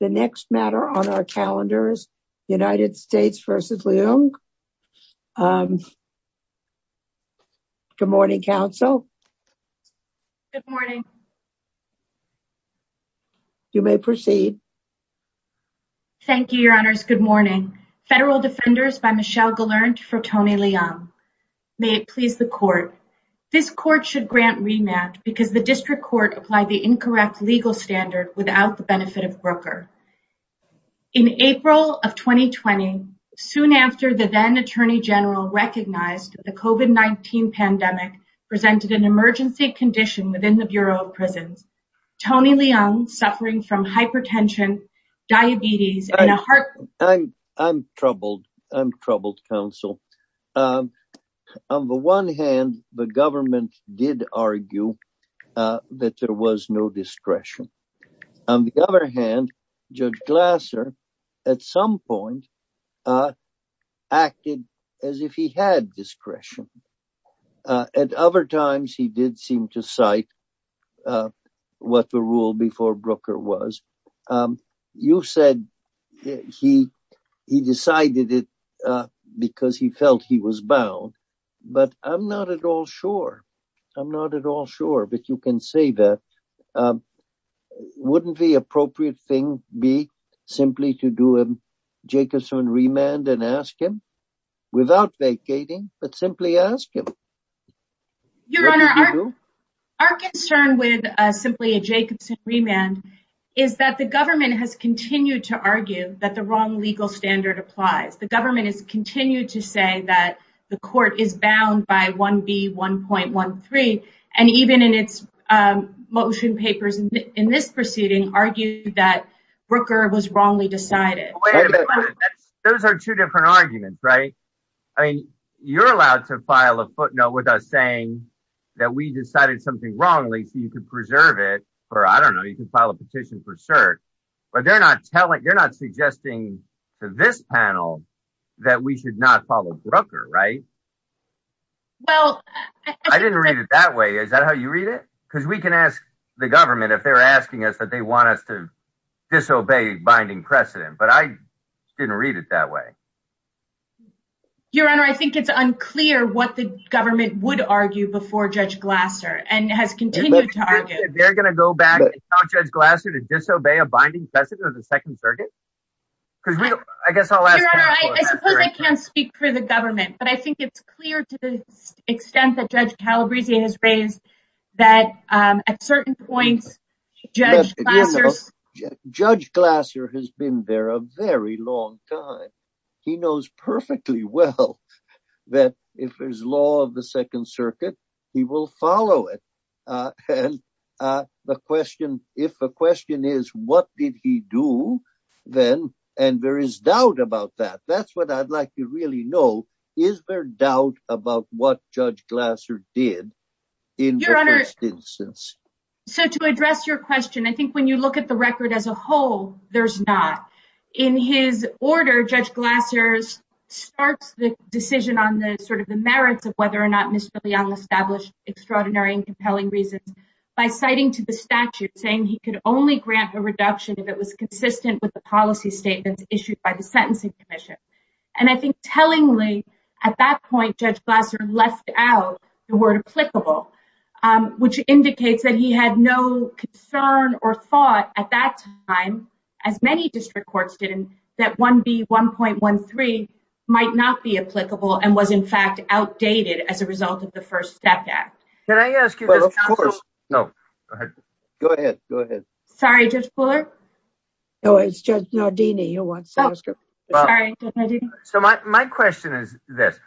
The next matter on our calendar is United States v. Leung. Good morning, counsel. Good morning. You may proceed. Thank you, Your Honors. Good morning. Federal Defenders by Michelle Gelernt for Tony Leung. May it please the court. This court should grant remand because the district court applied the incorrect legal standard without the benefit of Brooker. In April of 2020, soon after the then Attorney General recognized the COVID-19 pandemic presented an emergency condition within the Bureau of Prisons, Tony Leung, suffering from hypertension, diabetes, and a heart... I'm troubled. I'm troubled, counsel. On the one hand, the government did argue that there was no discretion. On the other hand, Judge Glasser, at some point, acted as if he had discretion. At other times, he did seem to cite what the rule before Brooker was. You said he decided it because he felt he was bound, but I'm not at all sure. I'm not at all sure, but you can say that. Wouldn't the appropriate thing be simply to do a Jacobson remand and ask him without vacating, but simply ask him? Your Honor, our concern with simply a Jacobson remand is that the government has continued to argue that the wrong legal standard applies. The government has continued to say that the court is bound by 1B1.13, and even in its motion papers in this proceeding, argued that Brooker was wrongly decided. Wait a minute. Those are two different arguments, right? You're allowed to file a footnote with us saying that we decided something wrongly, so you can preserve it, or I don't know, you can file a petition for cert, but you're not suggesting to this panel that we should not follow Brooker, right? I didn't read it that way. Is that how you read it? Because we can ask the government if they're asking us that they want us to disobey binding precedent, but I didn't read it that way. Your Honor, I think it's unclear what the government would argue before Judge Glasser, and has continued to argue. They're going to go back and tell Judge Glasser to disobey a binding precedent of the Second Circuit? Your Honor, I suppose I can't speak for the government, but I think it's clear to the extent that Judge Calabrese has raised that at certain points, Judge Glasser has been there a very long time. He knows perfectly well that if there's law of the Second Circuit, he will follow it. And the question, if the question is, what did he do then? And there is doubt about that. That's what I'd like to really know. Is there doubt about what Judge Glasser did in the first instance? So to address your question, I think when you look at the record as a whole, there's not. In his order, Judge Glasser starts the decision on the sort of the merits of whether or not Ms. Filion established extraordinary and compelling reasons by citing to the statute, saying he could only grant a reduction if it was consistent with the policy statements issued by the Sentencing Commission. And I think tellingly, at that point, Judge Glasser left out the word applicable, which indicates that he had no concern or thought at that time, as many district courts did, that 1B1.13 might not be applicable and was in fact outdated as a result of the First Step Act. Can I ask you? No. Go ahead. Go ahead. Sorry, Judge Fuller. No, it's Judge Nardini who wants to answer. So my question is this.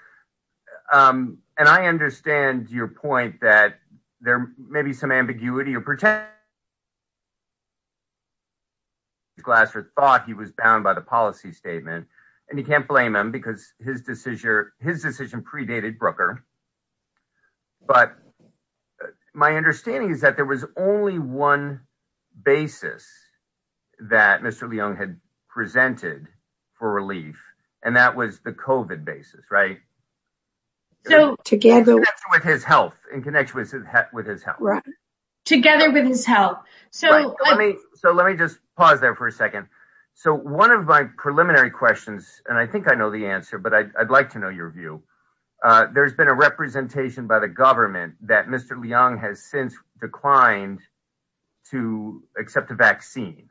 And I understand your point that there may be some ambiguity or pretend. Glasser thought he was bound by the policy statement and he can't blame him because his decision predated Brooker. But my understanding is that there was only one basis that Mr. Leung had presented for relief, and that was the COVID basis. Right. So together with his health, in connection with his health. Together with his health. So let me just pause there for a second. So one of my preliminary questions, and I think I know the answer, but I'd like to know your view. There's been a representation by the government that Mr. Leung has since declined to accept a vaccine,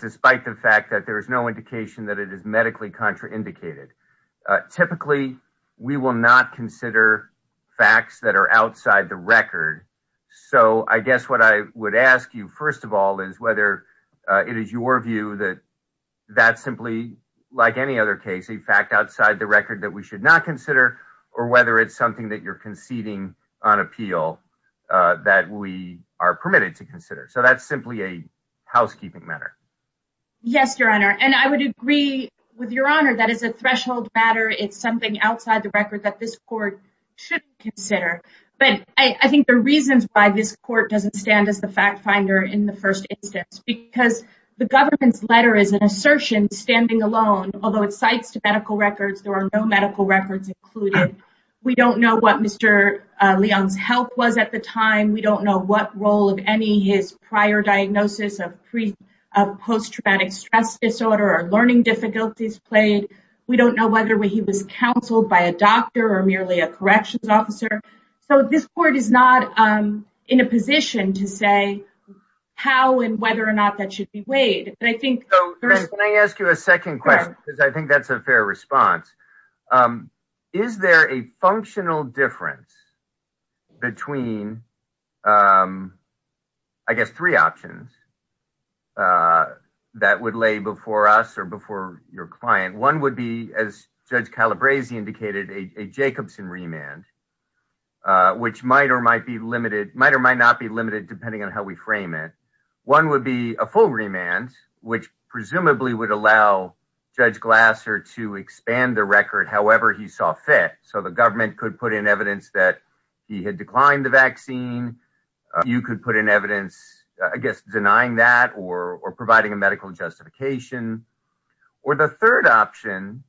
despite the fact that there is no indication that it is medically contraindicated. Typically, we will not consider facts that are outside the record. So I guess what I would ask you, first of all, is whether it is your view that that's simply like any other case, a fact outside the record that we should not consider, or whether it's something that you're conceding on appeal that we are permitted to consider. So that's simply a housekeeping matter. Yes, Your Honor. And I would agree with Your Honor. That is a threshold matter. It's something outside the record that this court should consider. But I think the reasons why this court doesn't stand as the fact finder in the first instance, because the government's letter is an assertion standing alone. Although it cites to medical records, there are no medical records included. We don't know what Mr. Leung's health was at the time. We don't know what role of any his prior diagnosis of post-traumatic stress disorder or learning difficulties played. We don't know whether he was counseled by a doctor or merely a corrections officer. So this court is not in a position to say how and whether or not that should be weighed. Can I ask you a second question? I think that's a fair response. Is there a functional difference between, I guess, three options that would lay before us or before your client? One would be, as Judge Calabresi indicated, a Jacobson remand, which might or might not be limited depending on how we frame it. One would be a full remand, which presumably would allow Judge Glasser to expand the record however he saw fit. So the government could put in evidence that he had declined the vaccine. You could put in evidence, I guess, denying that or providing a medical justification. Or the third option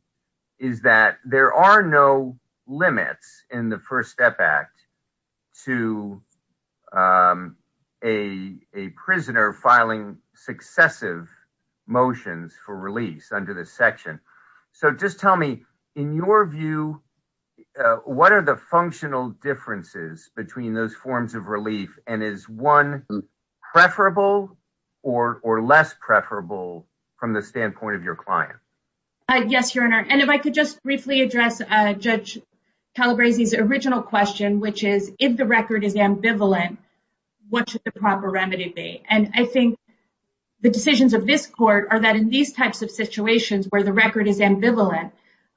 is that there are no limits in the First Step Act to a prisoner filing successive motions for release under this section. So just tell me, in your view, what are the functional differences between those forms of relief? And is one preferable or less preferable from the standpoint of your client? Yes, Your Honor. And if I could just briefly address Judge Calabresi's original question, which is, if the record is ambivalent, what should the proper remedy be? And I think the decisions of this court are that in these types of situations where the record is ambivalent,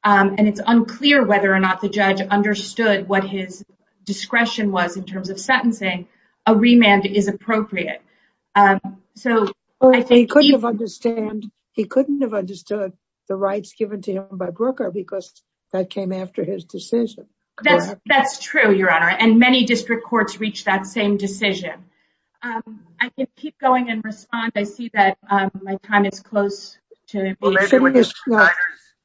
and it's unclear whether or not the judge understood what his discretion was in terms of sentencing, a remand is appropriate. He couldn't have understood the rights given to him by Brooker because that came after his decision. That's true, Your Honor. And many district courts reach that same decision. I can keep going and respond. I see that my time is close. Well, maybe with your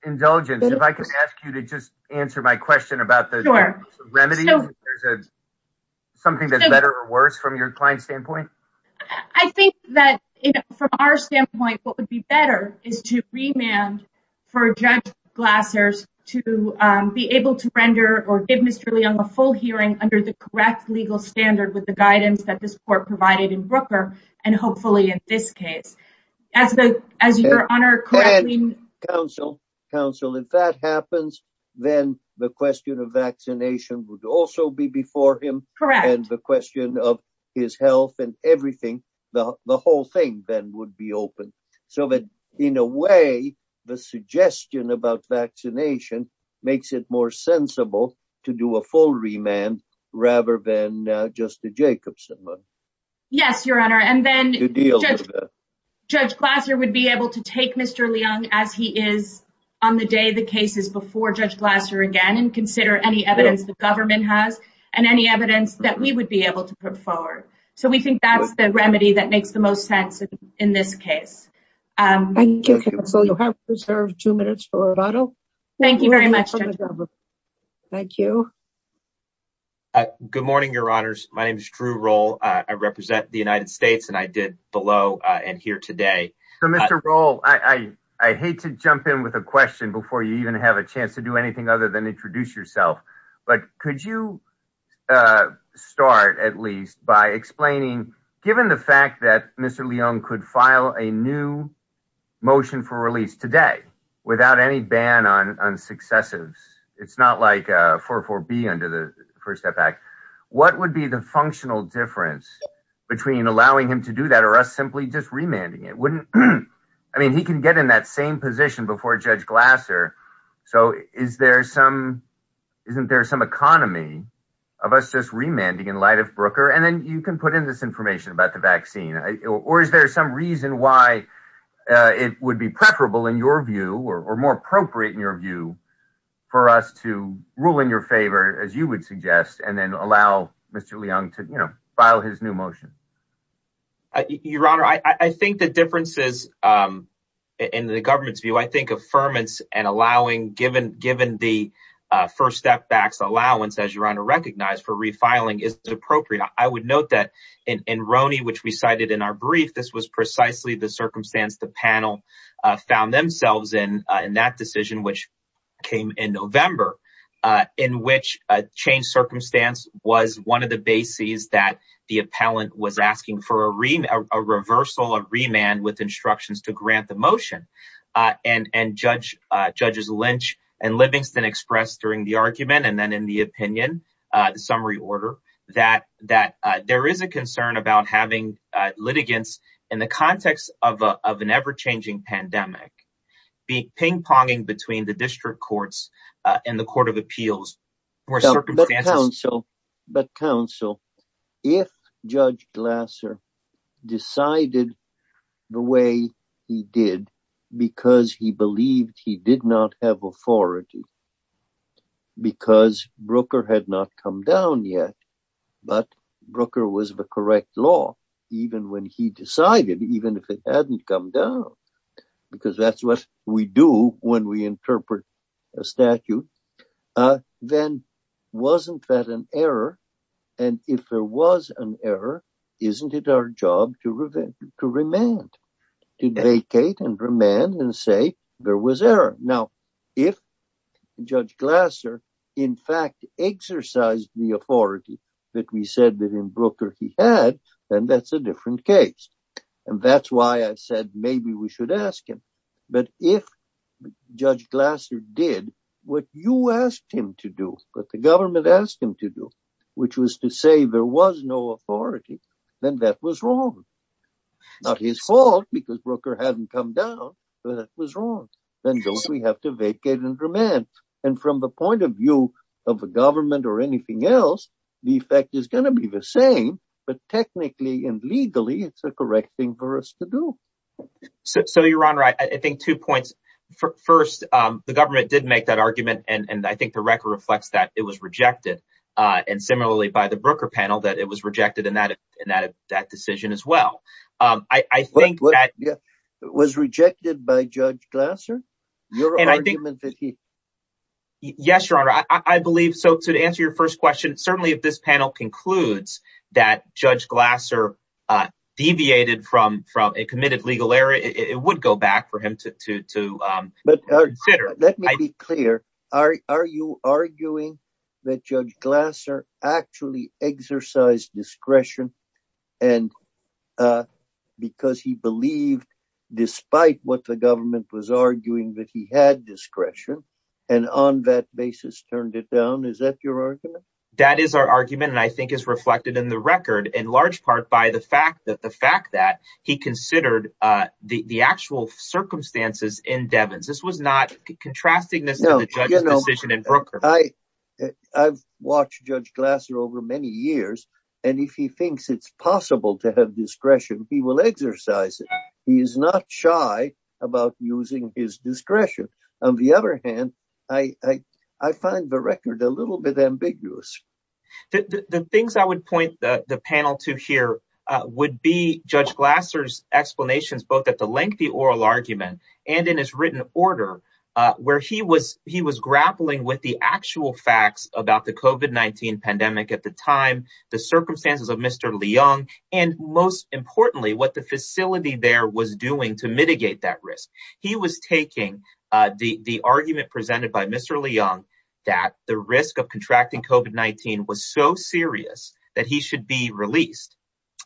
indulgence, if I could ask you to just answer my question about the remedies, if there's something that's better or worse from your client's standpoint? I think that from our standpoint, what would be better is to remand for Judge Glasser to be able to render or give Mr. Leung a full hearing under the correct legal standard with the guidance that this court provided in Brooker, and hopefully in this case. Counsel, if that happens, then the question of vaccination would also be before him. And the question of his health and everything, the whole thing then would be open. So that in a way, the suggestion about vaccination makes it more sensible to do a full remand rather than just the Jacobson one. Yes, Your Honor. And then Judge Glasser would be able to take Mr. Leung as he is on the day the case is before Judge Glasser again and consider any evidence the government has and any evidence that we would be able to put forward. So we think that's the remedy that makes the most sense in this case. Thank you, Counsel. You have reserved two minutes for a vote. Thank you very much, Judge. Thank you. Good morning, Your Honors. My name is Drew Roll. I represent the United States and I did below and here today. So, Mr. Roll, I hate to jump in with a question before you even have a chance to do anything other than introduce yourself. But could you start at least by explaining, given the fact that Mr. Leung could file a new motion for release today without any ban on successives? It's not like 4-4-B under the First Step Act. What would be the functional difference between allowing him to do that or us simply just remanding it? I mean, he can get in that same position before Judge Glasser. So is there some isn't there some economy of us just remanding in light of Brooker? And then you can put in this information about the vaccine. Or is there some reason why it would be preferable in your view or more appropriate in your view for us to rule in your favor, as you would suggest, and then allow Mr. Leung to file his new motion? Your Honor, I think the differences in the government's view, I think, affirmance and allowing given given the First Step Act's allowance, as you recognize, for refiling is appropriate. I would note that in Roney, which we cited in our brief, this was precisely the circumstance the panel found themselves in in that decision, which came in November, in which a change circumstance was one of the bases that the appellant was asking for a reversal of remand with instructions to grant the motion. And Judge Judges Lynch and Livingston expressed during the argument and then in the opinion, the summary order that that there is a concern about having litigants in the context of an ever changing pandemic. The ping ponging between the district courts and the Court of Appeals were circumstances. But counsel, if Judge Glasser decided the way he did because he believed he did not have authority. Because Brooker had not come down yet, but Brooker was the correct law, even when he decided, even if it hadn't come down, because that's what we do when we interpret a statute. Then wasn't that an error? And if there was an error, isn't it our job to prevent, to remand, to vacate and remand and say there was error? Now, if Judge Glasser, in fact, exercised the authority that we said that in Brooker he had, then that's a different case. And that's why I said maybe we should ask him. But if Judge Glasser did what you asked him to do, what the government asked him to do, which was to say there was no authority, then that was wrong. Not his fault because Brooker hadn't come down, but it was wrong. Then we have to vacate and remand. And from the point of view of the government or anything else, the effect is going to be the same. But technically and legally, it's the correct thing for us to do. So, Your Honor, I think two points. First, the government did make that argument. And I think the record reflects that it was rejected. And similarly, by the Brooker panel, that it was rejected in that decision as well. I think that was rejected by Judge Glasser. Yes, Your Honor. I believe so. So to answer your first question, certainly if this panel concludes that Judge Glasser deviated from a committed legal error, it would go back for him to consider. Let me be clear. Are you arguing that Judge Glasser actually exercised discretion? And because he believed, despite what the government was arguing, that he had discretion and on that basis turned it down. Is that your argument? That is our argument. And I think it's reflected in the record in large part by the fact that the fact that he considered the actual circumstances in Devens. This was not contrasting this decision in Brooker. I've watched Judge Glasser over many years, and if he thinks it's possible to have discretion, he will exercise it. He is not shy about using his discretion. On the other hand, I find the record a little bit ambiguous. The things I would point the panel to here would be Judge Glasser's explanations, both at the lengthy oral argument and in his written order, where he was he was grappling with the actual facts about the COVID-19 pandemic at the time, the circumstances of Mr. Leung, and most importantly, what the facility there was doing to mitigate that risk. He was taking the argument presented by Mr. Leung that the risk of contracting COVID-19 was so serious that he should be released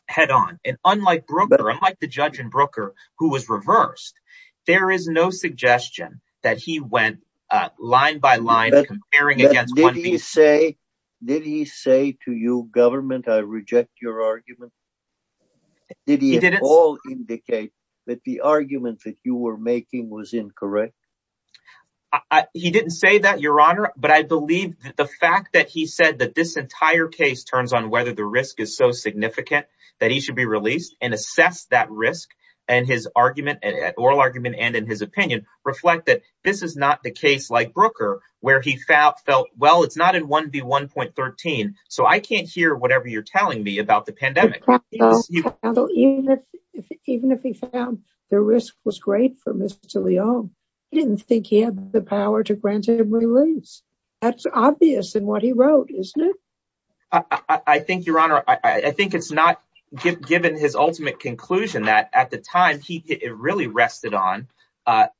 head on. And unlike Brooker, unlike the judge in Brooker who was reversed, there is no suggestion that he went line by line. Did he say to you, government, I reject your argument? Did he at all indicate that the argument that you were making was incorrect? He didn't say that, Your Honor, but I believe the fact that he said that this entire case turns on whether the risk is so significant that he should be released and assess that risk and his argument and oral argument and in his opinion reflect that this is not the case like Brooker, where he felt, well, it's not in 1B1.13, so I can't hear whatever you're telling me about the pandemic. Even if he found the risk was great for Mr. Leung, he didn't think he had the power to grant him release. That's obvious in what he wrote, isn't it? I think, Your Honor, I think it's not given his ultimate conclusion that at the time, it really rested on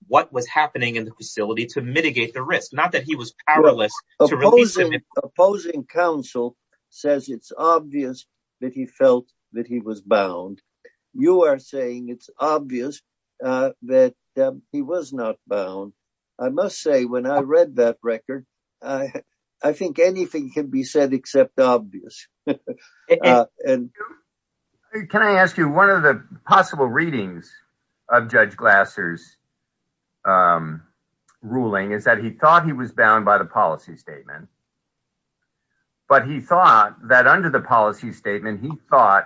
what was happening in the facility to mitigate the risk, not that he was powerless to release him. Opposing counsel says it's obvious that he felt that he was bound. You are saying it's obvious that he was not bound. I must say, when I read that record, I think anything can be said except obvious. Can I ask you one of the possible readings of Judge Glasser's ruling is that he thought he was bound by the policy statement. But he thought that under the policy statement, he thought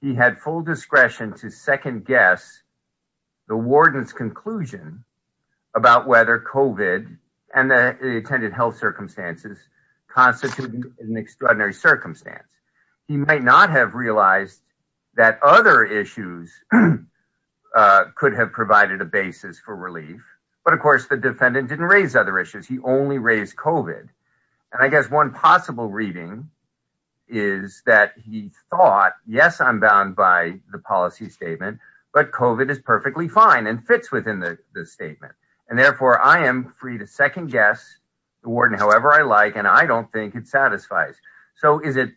he had full discretion to second guess the warden's conclusion about whether COVID and the intended health circumstances constituted an extraordinary circumstance. He might not have realized that other issues could have provided a basis for relief. But, of course, the defendant didn't raise other issues. He only raised COVID. And I guess one possible reading is that he thought, yes, I'm bound by the policy statement, but COVID is perfectly fine and fits within the statement. And therefore, I am free to second guess the warden however I like, and I don't think it satisfies. So is it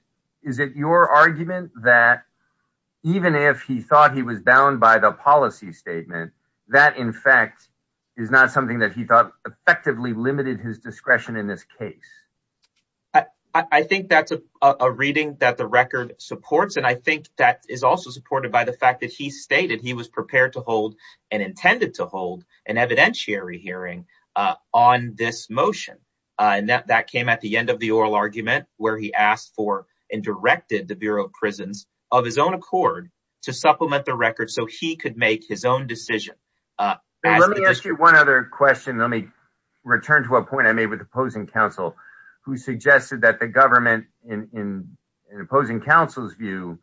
is it your argument that even if he thought he was bound by the policy statement, that, in fact, is not something that he thought effectively limited his discretion in this case? I think that's a reading that the record supports. And I think that is also supported by the fact that he stated he was prepared to hold and intended to hold an evidentiary hearing on this motion. And that came at the end of the oral argument where he asked for and directed the Bureau of Prisons of his own accord to supplement the record so he could make his own decision. Let me ask you one other question. Let me return to a point I made with the opposing counsel, who suggested that the government, in opposing counsel's view,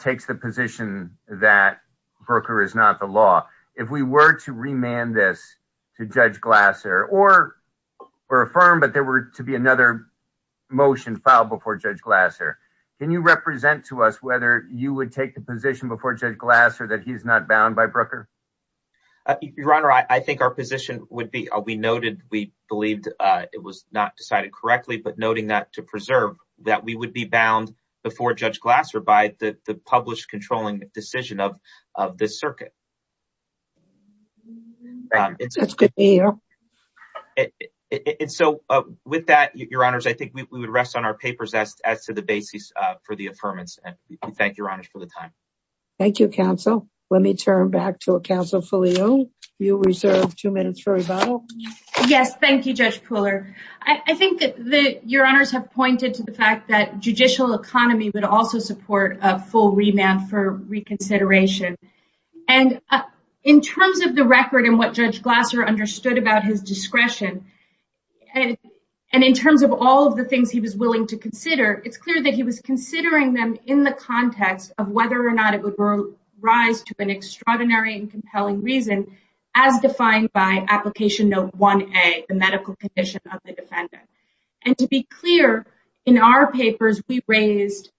takes the position that Brooker is not the law. If we were to remand this to Judge Glasser or were affirmed, but there were to be another motion filed before Judge Glasser, can you represent to us whether you would take the position before Judge Glasser that he's not bound by Brooker? Your Honor, I think our position would be we noted we believed it was not decided correctly, but noting that to preserve that we would be bound before Judge Glasser by the published controlling decision of the circuit. That's good to hear. And so with that, Your Honors, I think we would rest on our papers as to the basis for the affirmance. Thank you, Your Honors, for the time. Thank you, counsel. Let me turn back to counsel Filiu. You reserve two minutes for rebuttal. Yes. Thank you, Judge Pooler. I think that Your Honors have pointed to the fact that judicial economy would also support a full remand for reconsideration. And in terms of the record and what Judge Glasser understood about his discretion and in terms of all of the things he was willing to consider, it's clear that he was considering them in the context of whether or not it would rise to an extraordinary and compelling reason, as defined by Application Note 1A, the medical condition of the defendant. And to be clear, in our papers, we raised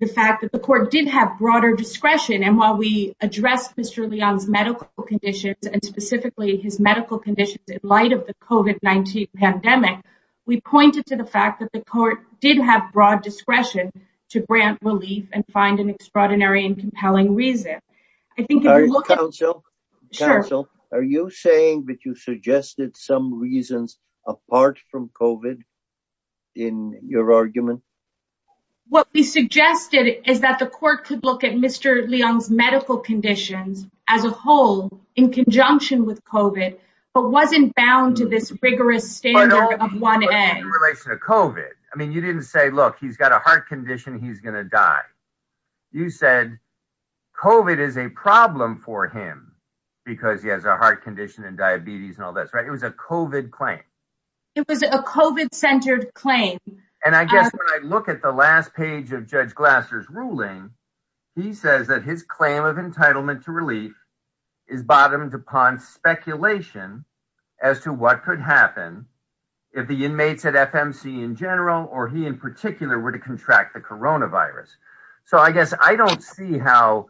the fact that the court did have broader discretion. And while we addressed Mr. Leong's medical conditions and specifically his medical conditions in light of the COVID-19 pandemic, we pointed to the fact that the court did have broad discretion to grant relief and find an extraordinary and compelling reason. I think, counsel, are you saying that you suggested some reasons apart from COVID in your argument? What we suggested is that the court could look at Mr. Leong's medical conditions as a whole in conjunction with COVID, but wasn't bound to this rigorous standard of 1A. In relation to COVID, I mean, you didn't say, look, he's got a heart condition, he's going to die. You said COVID is a problem for him because he has a heart condition and diabetes and all that. It was a COVID claim. It was a COVID-centered claim. And I guess when I look at the last page of Judge Glasser's ruling, he says that his claim of entitlement to relief is bottomed upon speculation as to what could happen if the inmates at FMC in general or he in particular were to contract the coronavirus. So I guess I don't see how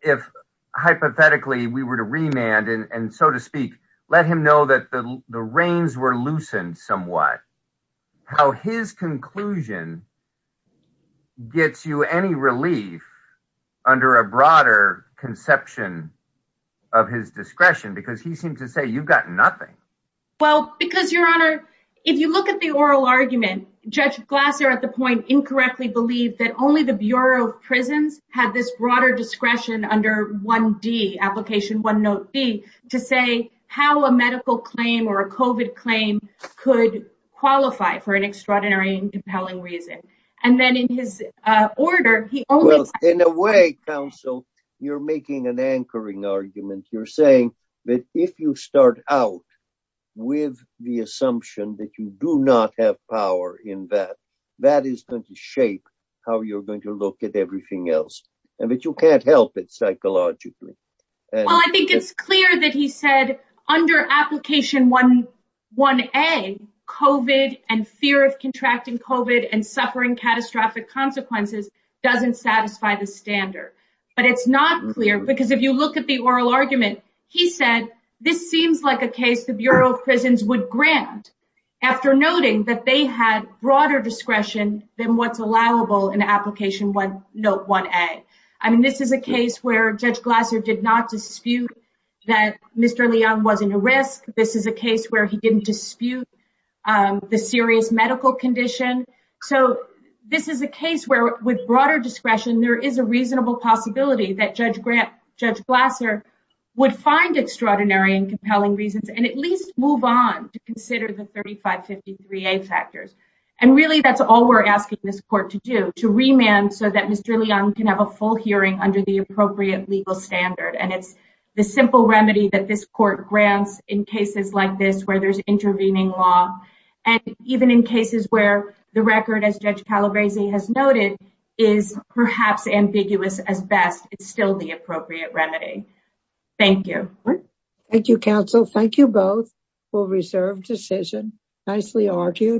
if hypothetically we were to remand and so to speak, let him know that the reins were loosened somewhat. How his conclusion gets you any relief under a broader conception of his discretion, because he seemed to say you've got nothing. Well, because, Your Honor, if you look at the oral argument, Judge Glasser at the point incorrectly believed that only the Bureau of Prisons had this broader discretion under 1D, application 1 note B, to say how a medical claim or a COVID claim could qualify for an extraordinary and compelling reason. And then in his order, he only- In a way, counsel, you're making an anchoring argument. You're saying that if you start out with the assumption that you do not have power in that, that is going to shape how you're going to look at everything else and that you can't help it psychologically. Well, I think it's clear that he said under application 1A, COVID and fear of contracting COVID and suffering catastrophic consequences doesn't satisfy the standard. But it's not clear because if you look at the oral argument, he said this seems like a case the Bureau of Prisons would grant after noting that they had broader discretion than what's allowable in application 1A. I mean, this is a case where Judge Glasser did not dispute that Mr. Leung wasn't at risk. This is a case where he didn't dispute the serious medical condition. So this is a case where with broader discretion, there is a reasonable possibility that Judge Glasser would find extraordinary and compelling reasons and at least move on to consider the 3553A factors. And really, that's all we're asking this court to do to remand so that Mr. Leung can have a full hearing under the appropriate legal standard. And it's the simple remedy that this court grants in cases like this where there's intervening law. And even in cases where the record, as Judge Calabresi has noted, is perhaps ambiguous as best. It's still the appropriate remedy. Thank you. Thank you, counsel. Thank you both for reserved decision. Nicely argued.